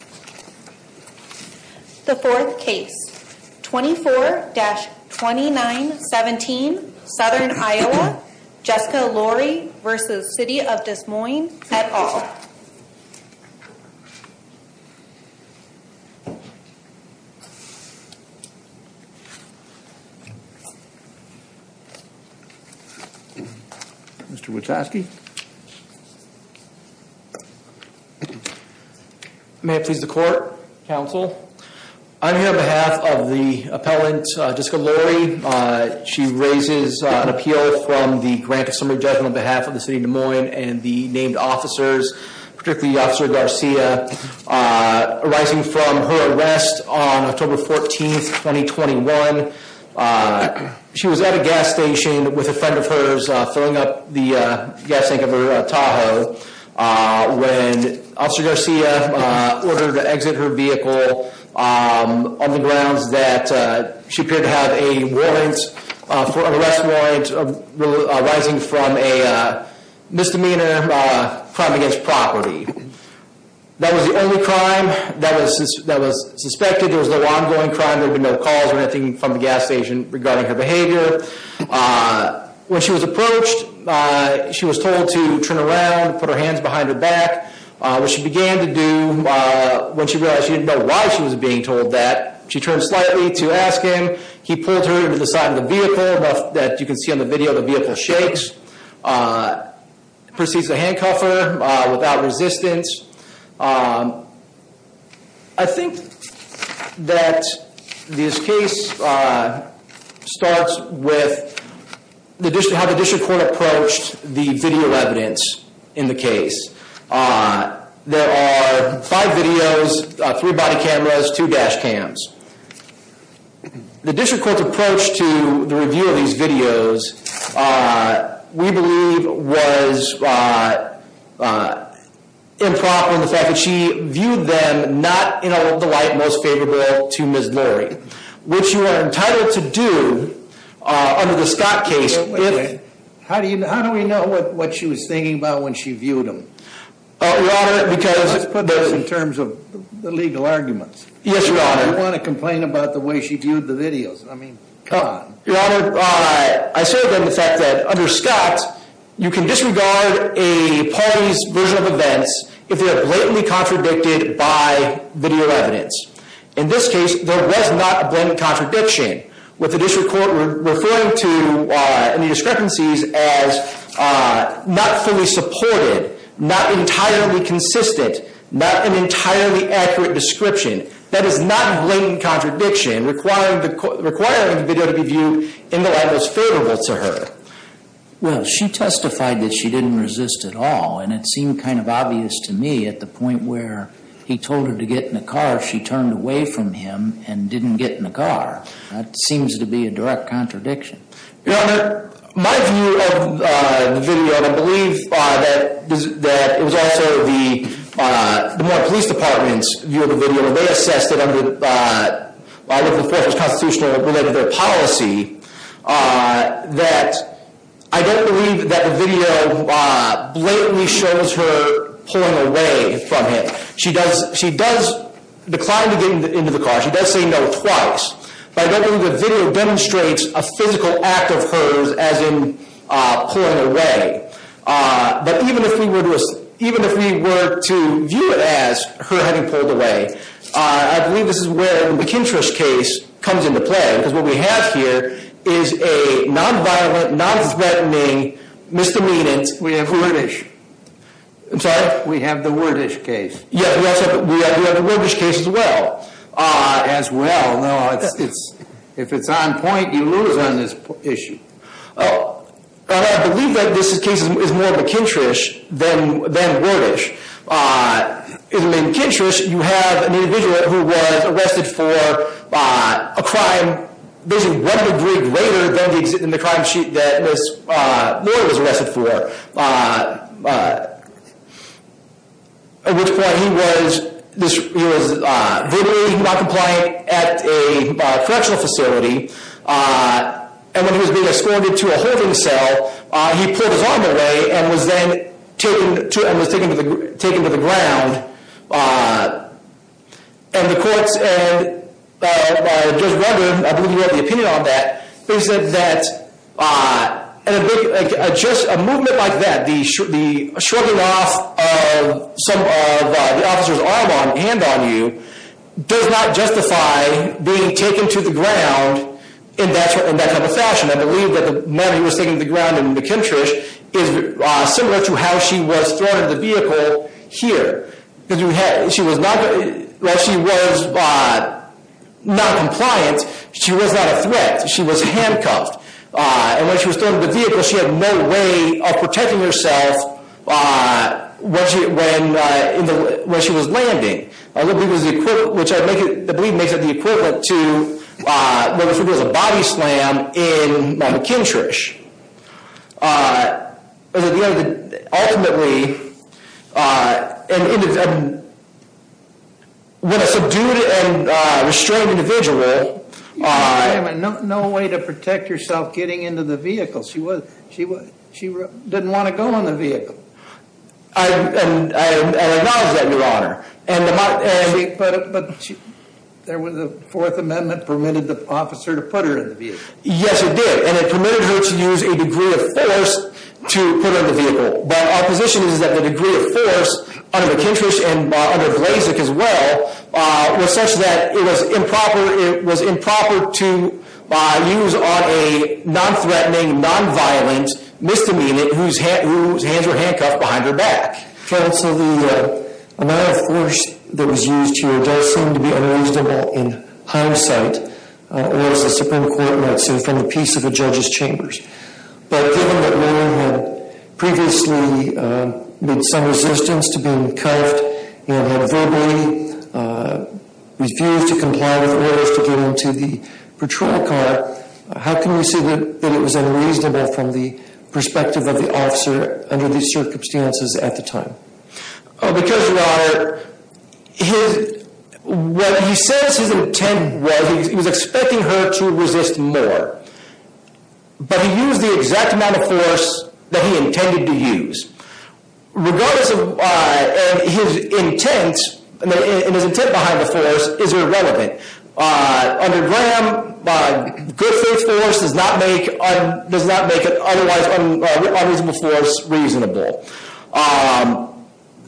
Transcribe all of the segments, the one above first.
The 4th case, 24-2917 Southern Iowa, Jessica Laurie v. City of Des Moines et al. Mr. Wachowski May it please the court. Counsel. I'm here on behalf of the appellant Jessica Laurie. She raises an appeal from the grant of summary judgment on behalf of the City of Des Moines and the named officers, particularly Officer Garcia, arising from her arrest on October 14, 2021. She was at a gas station with a friend of hers filling up the gas tank of her Tahoe when Officer Garcia ordered her to exit her vehicle on the grounds that she appeared to have an arrest warrant arising from a misdemeanor crime against property. That was the only crime that was suspected. There was no ongoing crime. There were no calls or anything from the gas station regarding her behavior. When she was approached, she was told to turn around and put her hands behind her back. What she began to do when she realized she didn't know why she was being told that, she turned slightly to ask him. He pulled her to the side of the vehicle. As you can see on the video, the vehicle shakes. She proceeds to handcuff her without resistance. I think that this case starts with how the district court approached the video evidence in the case. There are five videos, three body cameras, two dash cams. The district court's approach to the review of these videos, we believe, was improper in the fact that she viewed them not in the light most favorable to Ms. Murray, which you are entitled to do under the Scott case. How do we know what she was thinking about when she viewed them? Let's put this in terms of the legal arguments. Yes, Your Honor. I don't want to complain about the way she viewed the videos. I mean, come on. Your Honor, I said then the fact that under Scott, you can disregard a party's version of events if they are blatantly contradicted by video evidence. In this case, there was not a blatant contradiction with the district court referring to any discrepancies as not fully supported, not entirely consistent, not an entirely accurate description. That is not a blatant contradiction requiring the video to be viewed in the light most favorable to her. Well, she testified that she didn't resist at all, and it seemed kind of obvious to me at the point where he told her to get in the car, she turned away from him and didn't get in the car. That seems to be a direct contradiction. Your Honor, my view of the video, and I believe that it was also the Vermont Police Department's view of the video, and they assessed it under, I believe the fourth was constitutional related to their policy, that I don't believe that the video blatantly shows her pulling away from him. She does decline to get into the car. She does say no twice. But I don't believe the video demonstrates a physical act of hers as in pulling away. But even if we were to view it as her having pulled away, I believe this is where the McIntosh case comes into play, because what we have here is a non-violent, non-threatening misdemeanant court- We have the Werdich case. Yeah, we have the Werdich case as well. As well, no, if it's on point, you lose on this issue. I believe that this case is more McIntosh than Werdich. In McIntosh, you have an individual who was arrested for a crime basically one degree greater than the crime sheet that Ms. Moore was arrested for. At which point he was verbally not compliant at a correctional facility. And when he was being escorted to a holding cell, he pulled his arm away and was then taken to the ground. And the courts just wondered, I believe you have the opinion on that, is that just a movement like that, the shrugging off of the officer's arm and hand on you, does not justify being taken to the ground in that kind of fashion. I believe that the moment he was taken to the ground in McIntosh is similar to how she was thrown into the vehicle here. She was not compliant, she was not a threat, she was handcuffed. And when she was thrown into the vehicle, she had no way of protecting herself when she was landing. Which I believe makes it the equivalent to a body slam in McIntosh. Ultimately, when a subdued and restrained individual. No way to protect yourself getting into the vehicle. She didn't want to go in the vehicle. I acknowledge that, Your Honor. But the Fourth Amendment permitted the officer to put her in the vehicle. Yes, it did. And it permitted her to use a degree of force to put her in the vehicle. But our position is that the degree of force under McIntosh and under Blazek as well, was such that it was improper to use on a non-threatening, non-violent misdemeanant whose hands were handcuffed behind her back. Counsel, the amount of force that was used here does seem to be unreasonable in hindsight. Or as the Supreme Court might say, from the peace of a judge's chambers. But given that Lillian had previously made some resistance to being handcuffed, and had verbally refused to comply with orders to get into the patrol car, how can we say that it was unreasonable from the perspective of the officer under these circumstances at the time? Because, Your Honor, what he says his intent was, he was expecting her to resist more. But he used the exact amount of force that he intended to use. Regardless of his intent, and his intent behind the force is irrelevant. Under Graham, good faith force does not make an otherwise unreasonable force reasonable.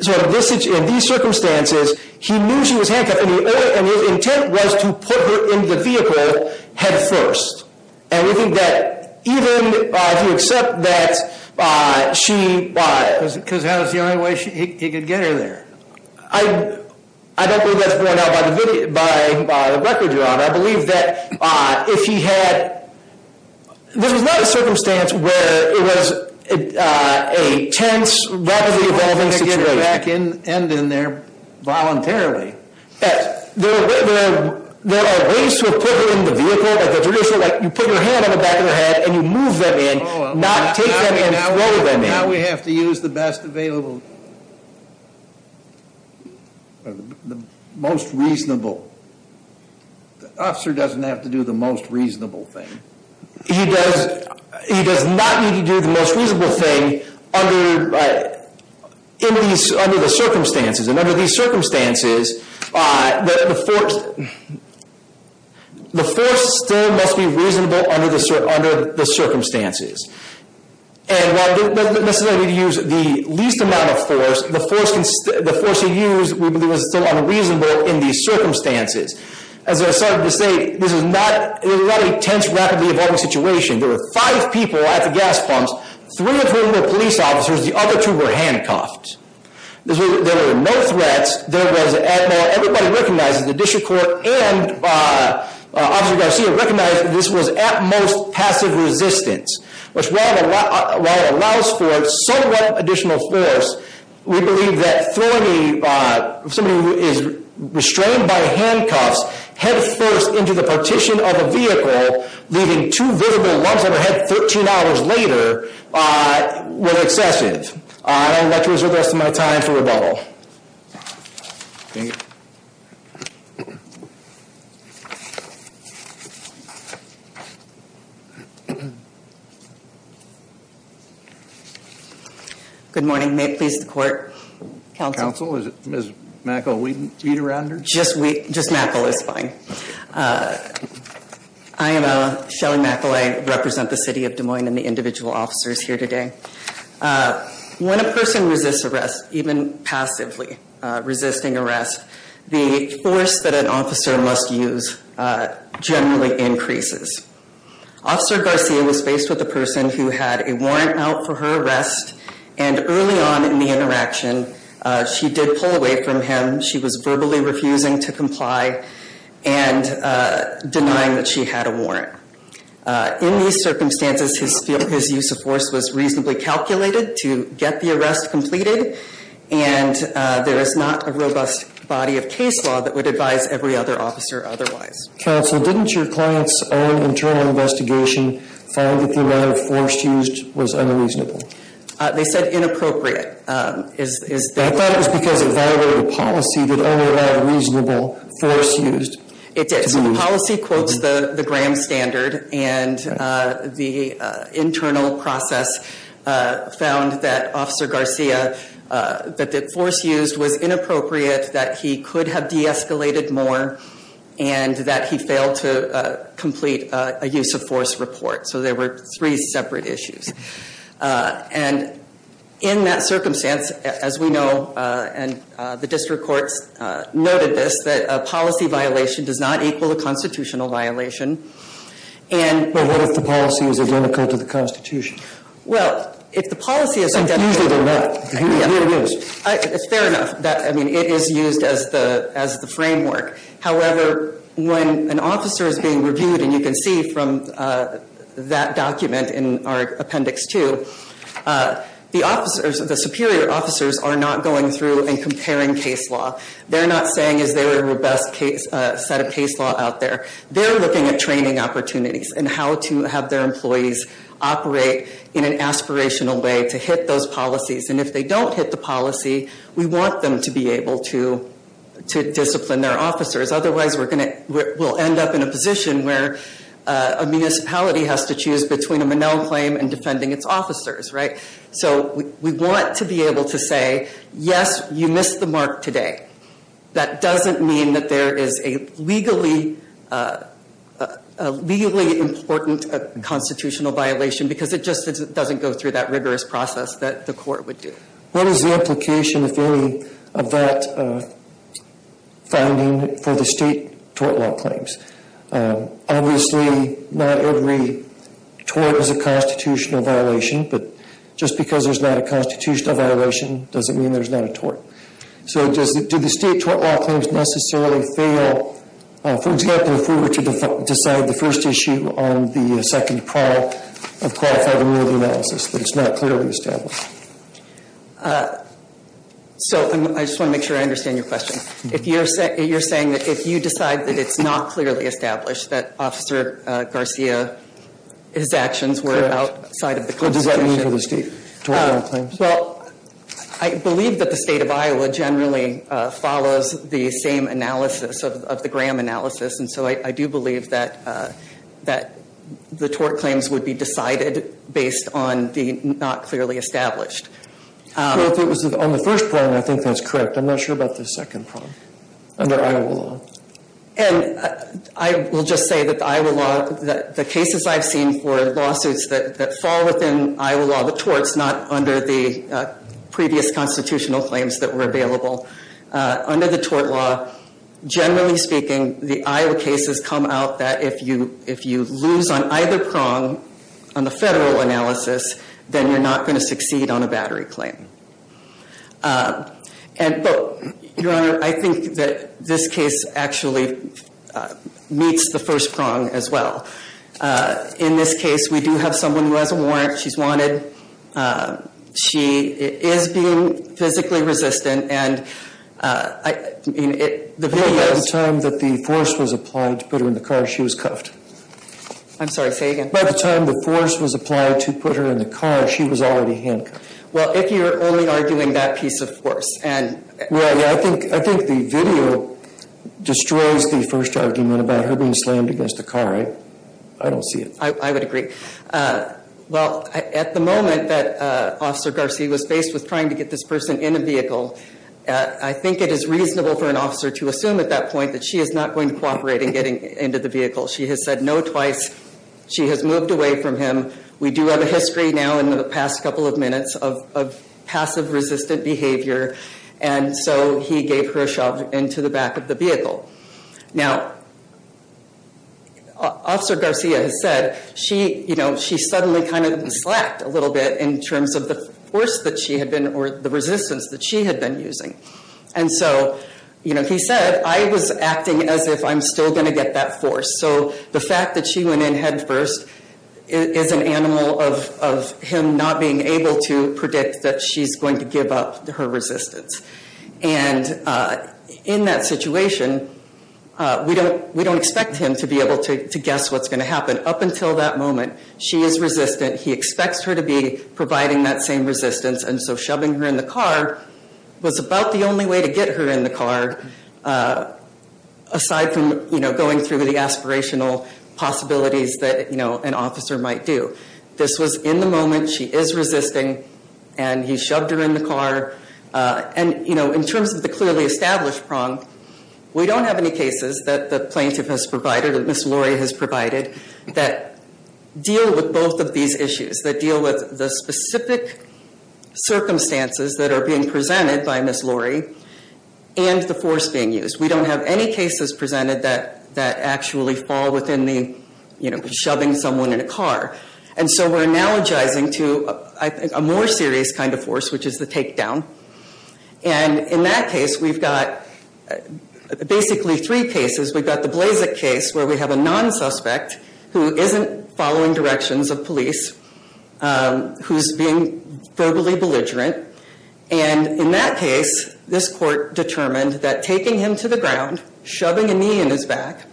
So in these circumstances, he knew she was handcuffed, and his intent was to put her in the vehicle head first. And we think that even if you accept that she- Because that was the only way he could get her there. I don't believe that's borne out by the record, Your Honor. I believe that if he had, this was not a circumstance where it was a tense, rapidly evolving situation. He didn't have to get her back in there voluntarily. There are ways to have put her in the vehicle. Like you put your hand on the back of her head, and you move them in. Not take them in and throw them in. So now we have to use the best available, the most reasonable. The officer doesn't have to do the most reasonable thing. He does not need to do the most reasonable thing under the circumstances. And under these circumstances, the force still must be reasonable under the circumstances. And while he doesn't necessarily need to use the least amount of force, the force he used was still unreasonable in these circumstances. As I started to say, this is not a tense, rapidly evolving situation. There were five people at the gas pumps, three of whom were police officers. The other two were handcuffed. There were no threats. Everybody recognizes, the district court and Officer Garcia recognized that this was at most passive resistance. Which while it allows for somewhat additional force, we believe that throwing somebody who is restrained by handcuffs head first into the partition of a vehicle, leaving two visible lumps on their head 13 hours later, were excessive. I would like to reserve the rest of my time for rebuttal. Thank you. Good morning. May it please the court. Counsel? Counsel, is it Ms. Mackle-Wheaton? Just Mackle is fine. I am Shelly Mackle. I represent the city of Des Moines and the individual officers here today. When a person resists arrest, even passively resisting arrest, the force that an officer must use generally increases. Officer Garcia was faced with a person who had a warrant out for her arrest, and early on in the interaction, she did pull away from him. She was verbally refusing to comply and denying that she had a warrant. In these circumstances, his use of force was reasonably calculated to get the arrest completed, and there is not a robust body of case law that would advise every other officer otherwise. Counsel, didn't your client's own internal investigation find that the amount of force used was unreasonable? They said inappropriate. I thought it was because it violated policy that only allowed reasonable force used. It did. So the policy quotes the Graham Standard, and the internal process found that Officer Garcia, that the force used was inappropriate, that he could have de-escalated more, and that he failed to complete a use of force report. So there were three separate issues. And in that circumstance, as we know, and the district courts noted this, that a policy violation does not equal a constitutional violation, and- But what if the policy is identical to the Constitution? Well, if the policy is identical- It's easier than that. Here it is. Fair enough. I mean, it is used as the framework. However, when an officer is being reviewed, and you can see from that document in our appendix two, the superior officers are not going through and comparing case law. They're not saying, is there a robust set of case law out there. They're looking at training opportunities and how to have their employees operate in an aspirational way to hit those policies. And if they don't hit the policy, we want them to be able to discipline their officers. Otherwise, we'll end up in a position where a municipality has to choose between a Monell claim and defending its officers, right? So we want to be able to say, yes, you missed the mark today. That doesn't mean that there is a legally important constitutional violation, because it just doesn't go through that rigorous process that the court would do. What is the implication, if any, of that finding for the state tort law claims? Obviously, not every tort is a constitutional violation, but just because there's not a constitutional violation doesn't mean there's not a tort. So do the state tort law claims necessarily fail? For example, if we were to decide the first issue on the second trial of qualifying the rule of analysis, but it's not clearly established. So I just want to make sure I understand your question. You're saying that if you decide that it's not clearly established that Officer Garcia, his actions were outside of the constitution. Correct. What does that mean for the state tort law claims? Well, I believe that the state of Iowa generally follows the same analysis of the Graham analysis, and so I do believe that the tort claims would be decided based on the not clearly established. Well, if it was on the first prong, I think that's correct. I'm not sure about the second prong under Iowa law. And I will just say that the Iowa law, the cases I've seen for lawsuits that fall within Iowa law, the torts, not under the previous constitutional claims that were available. Under the tort law, generally speaking, the Iowa cases come out that if you lose on either prong on the federal analysis, then you're not going to succeed on a battery claim. Your Honor, I think that this case actually meets the first prong as well. In this case, we do have someone who has a warrant. She's wanted. She is being physically resistant. By the time that the force was applied to put her in the car, she was cuffed. I'm sorry, say again. By the time the force was applied to put her in the car, she was already handcuffed. Well, if you're only arguing that piece of force. Well, yeah, I think the video destroys the first argument about her being slammed against the car, right? I don't see it. I would agree. Well, at the moment that Officer Garcia was faced with trying to get this person in a vehicle, I think it is reasonable for an officer to assume at that point that she is not going to cooperate in getting into the vehicle. She has said no twice. She has moved away from him. We do have a history now in the past couple of minutes of passive resistant behavior. And so he gave her a shove into the back of the vehicle. Now, Officer Garcia has said she suddenly kind of slacked a little bit in terms of the force that she had been, or the resistance that she had been using. And so he said, I was acting as if I'm still going to get that force. So the fact that she went in head first is an animal of him not being able to predict that she's going to give up her resistance. And in that situation, we don't expect him to be able to guess what's going to happen. Up until that moment, she is resistant. He expects her to be providing that same resistance. And so shoving her in the car was about the only way to get her in the car, aside from going through the aspirational possibilities that an officer might do. This was in the moment. She is resisting. And he shoved her in the car. And in terms of the clearly established prong, we don't have any cases that the plaintiff has provided, that Ms. Lori has provided, that deal with both of these issues, that deal with the specific circumstances that are being presented by Ms. Lori, and the force being used. We don't have any cases presented that actually fall within the shoving someone in a car. And so we're analogizing to, I think, a more serious kind of force, which is the takedown. And in that case, we've got basically three cases. We've got the Blazek case, where we have a non-suspect who isn't following directions of police, who's being verbally belligerent. And in that case, this court determined that taking him to the ground, shoving a knee in his back,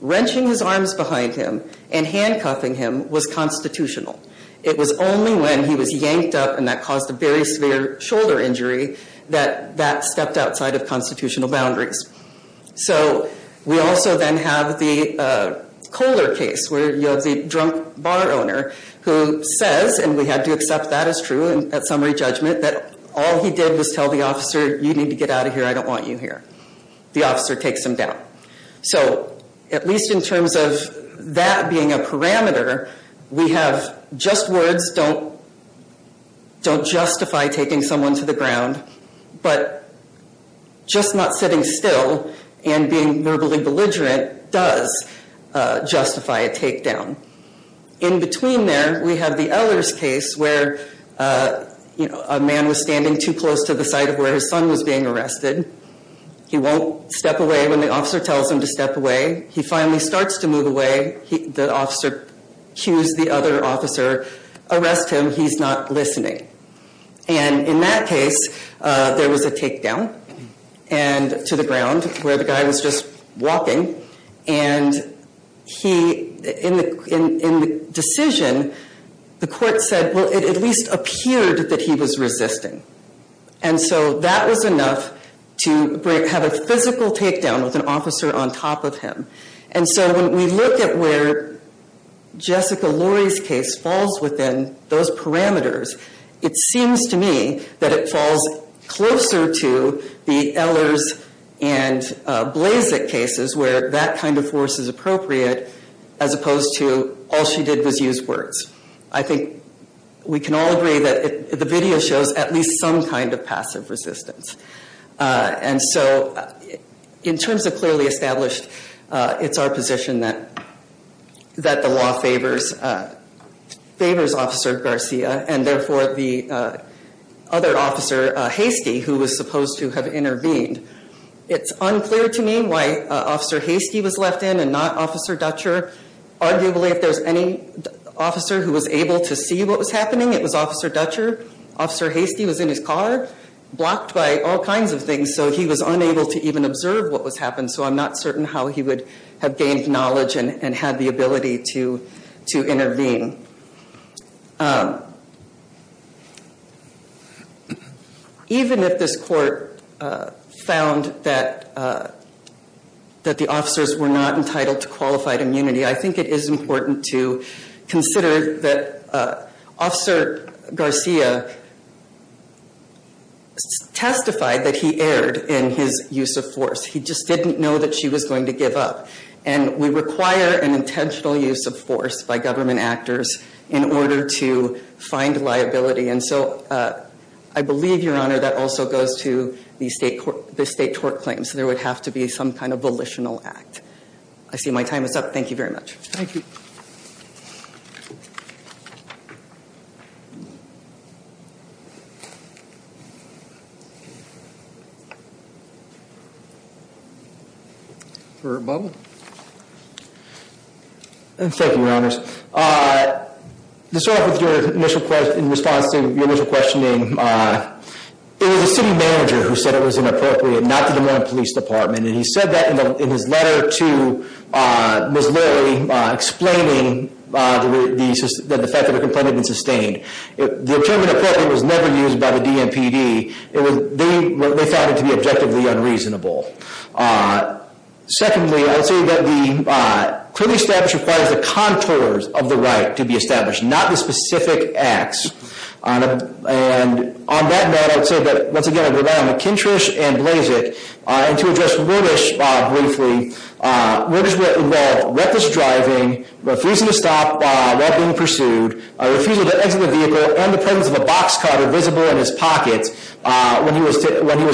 wrenching his arms behind him, and handcuffing him was constitutional. It was only when he was yanked up, and that caused a very severe shoulder injury, that that stepped outside of constitutional boundaries. So we also then have the Kohler case, where you have the drunk bar owner who says, and we had to accept that as true at summary judgment, that all he did was tell the officer, you need to get out of here, I don't want you here. The officer takes him down. So at least in terms of that being a parameter, we have just words, don't justify taking someone to the ground. But just not sitting still and being verbally belligerent does justify a takedown. In between there, we have the Ehlers case, where a man was standing too close to the site of where his son was being arrested. He won't step away when the officer tells him to step away. He finally starts to move away. The officer cues the other officer, arrest him, he's not listening. And in that case, there was a takedown to the ground where the guy was just walking. And in the decision, the court said, well, it at least appeared that he was resisting. And so that was enough to have a physical takedown with an officer on top of him. And so when we look at where Jessica Lori's case falls within those parameters, it seems to me that it falls closer to the Ehlers and Blazek cases where that kind of force is appropriate as opposed to all she did was use words. I think we can all agree that the video shows at least some kind of passive resistance. And so in terms of clearly established, it's our position that the law favors Officer Garcia and therefore the other officer, Hastie, who was supposed to have intervened. It's unclear to me why Officer Hastie was left in and not Officer Dutcher. Arguably, if there's any officer who was able to see what was happening, it was Officer Dutcher. Officer Hastie was in his car, blocked by all kinds of things, so he was unable to even observe what was happening. So I'm not certain how he would have gained knowledge and had the ability to intervene. Even if this court found that the officers were not entitled to qualified immunity, I think it is important to consider that Officer Garcia testified that he erred in his use of force. He just didn't know that she was going to give up. And we require an intentional use of force by government actors in order to find liability. And so I believe, Your Honor, that also goes to the state tort claims. There would have to be some kind of volitional act. I see my time is up. Thank you very much. Thank you. Thank you, Your Honors. To start off with your initial question, in response to your initial questioning, it was the city manager who said it was inappropriate, not the Des Moines Police Department. And he said that in his letter to Ms. Lurie, explaining the fact that the complaint had been sustained. The term inappropriate was never used by the DMPD. They found it to be objectively unreasonable. Secondly, I would say that the clearly established requires the contours of the right to be established, not the specific acts. And on that note, I would say that, once again, I rely on McKintrish and Blazick. And to address Wirtish briefly, Wirtish was involved in reckless driving, refusing to stop while being pursued, refusing to exit the vehicle, and the presence of a box cutter visible in his pocket when he was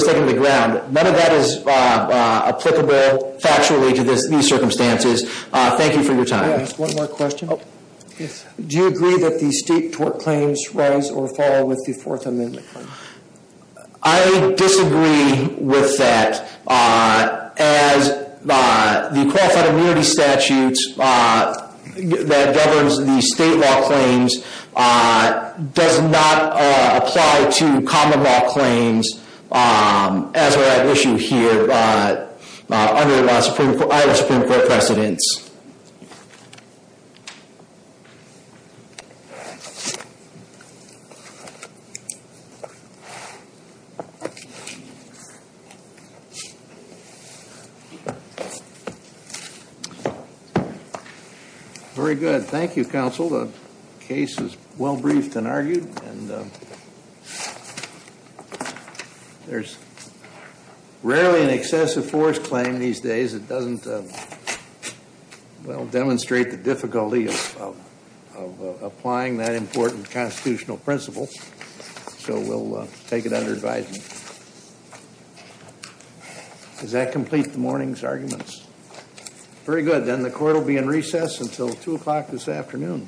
taken to the ground. None of that is applicable factually to these circumstances. Thank you for your time. One more question. Do you agree that the state tort claims rise or fall with the Fourth Amendment? I disagree with that. As the qualified immunity statutes that governs the state law claims does not apply to common law claims as are at issue here under our Supreme Court precedents. Very good. Thank you, counsel. The case is well briefed and argued. There's rarely an excessive force claim these days. It doesn't, well, demonstrate the difficulty of applying that important constitutional principle. So we'll take it under advisement. Does that complete the morning's arguments? Very good. Then the court will be in recess until 2 o'clock this afternoon.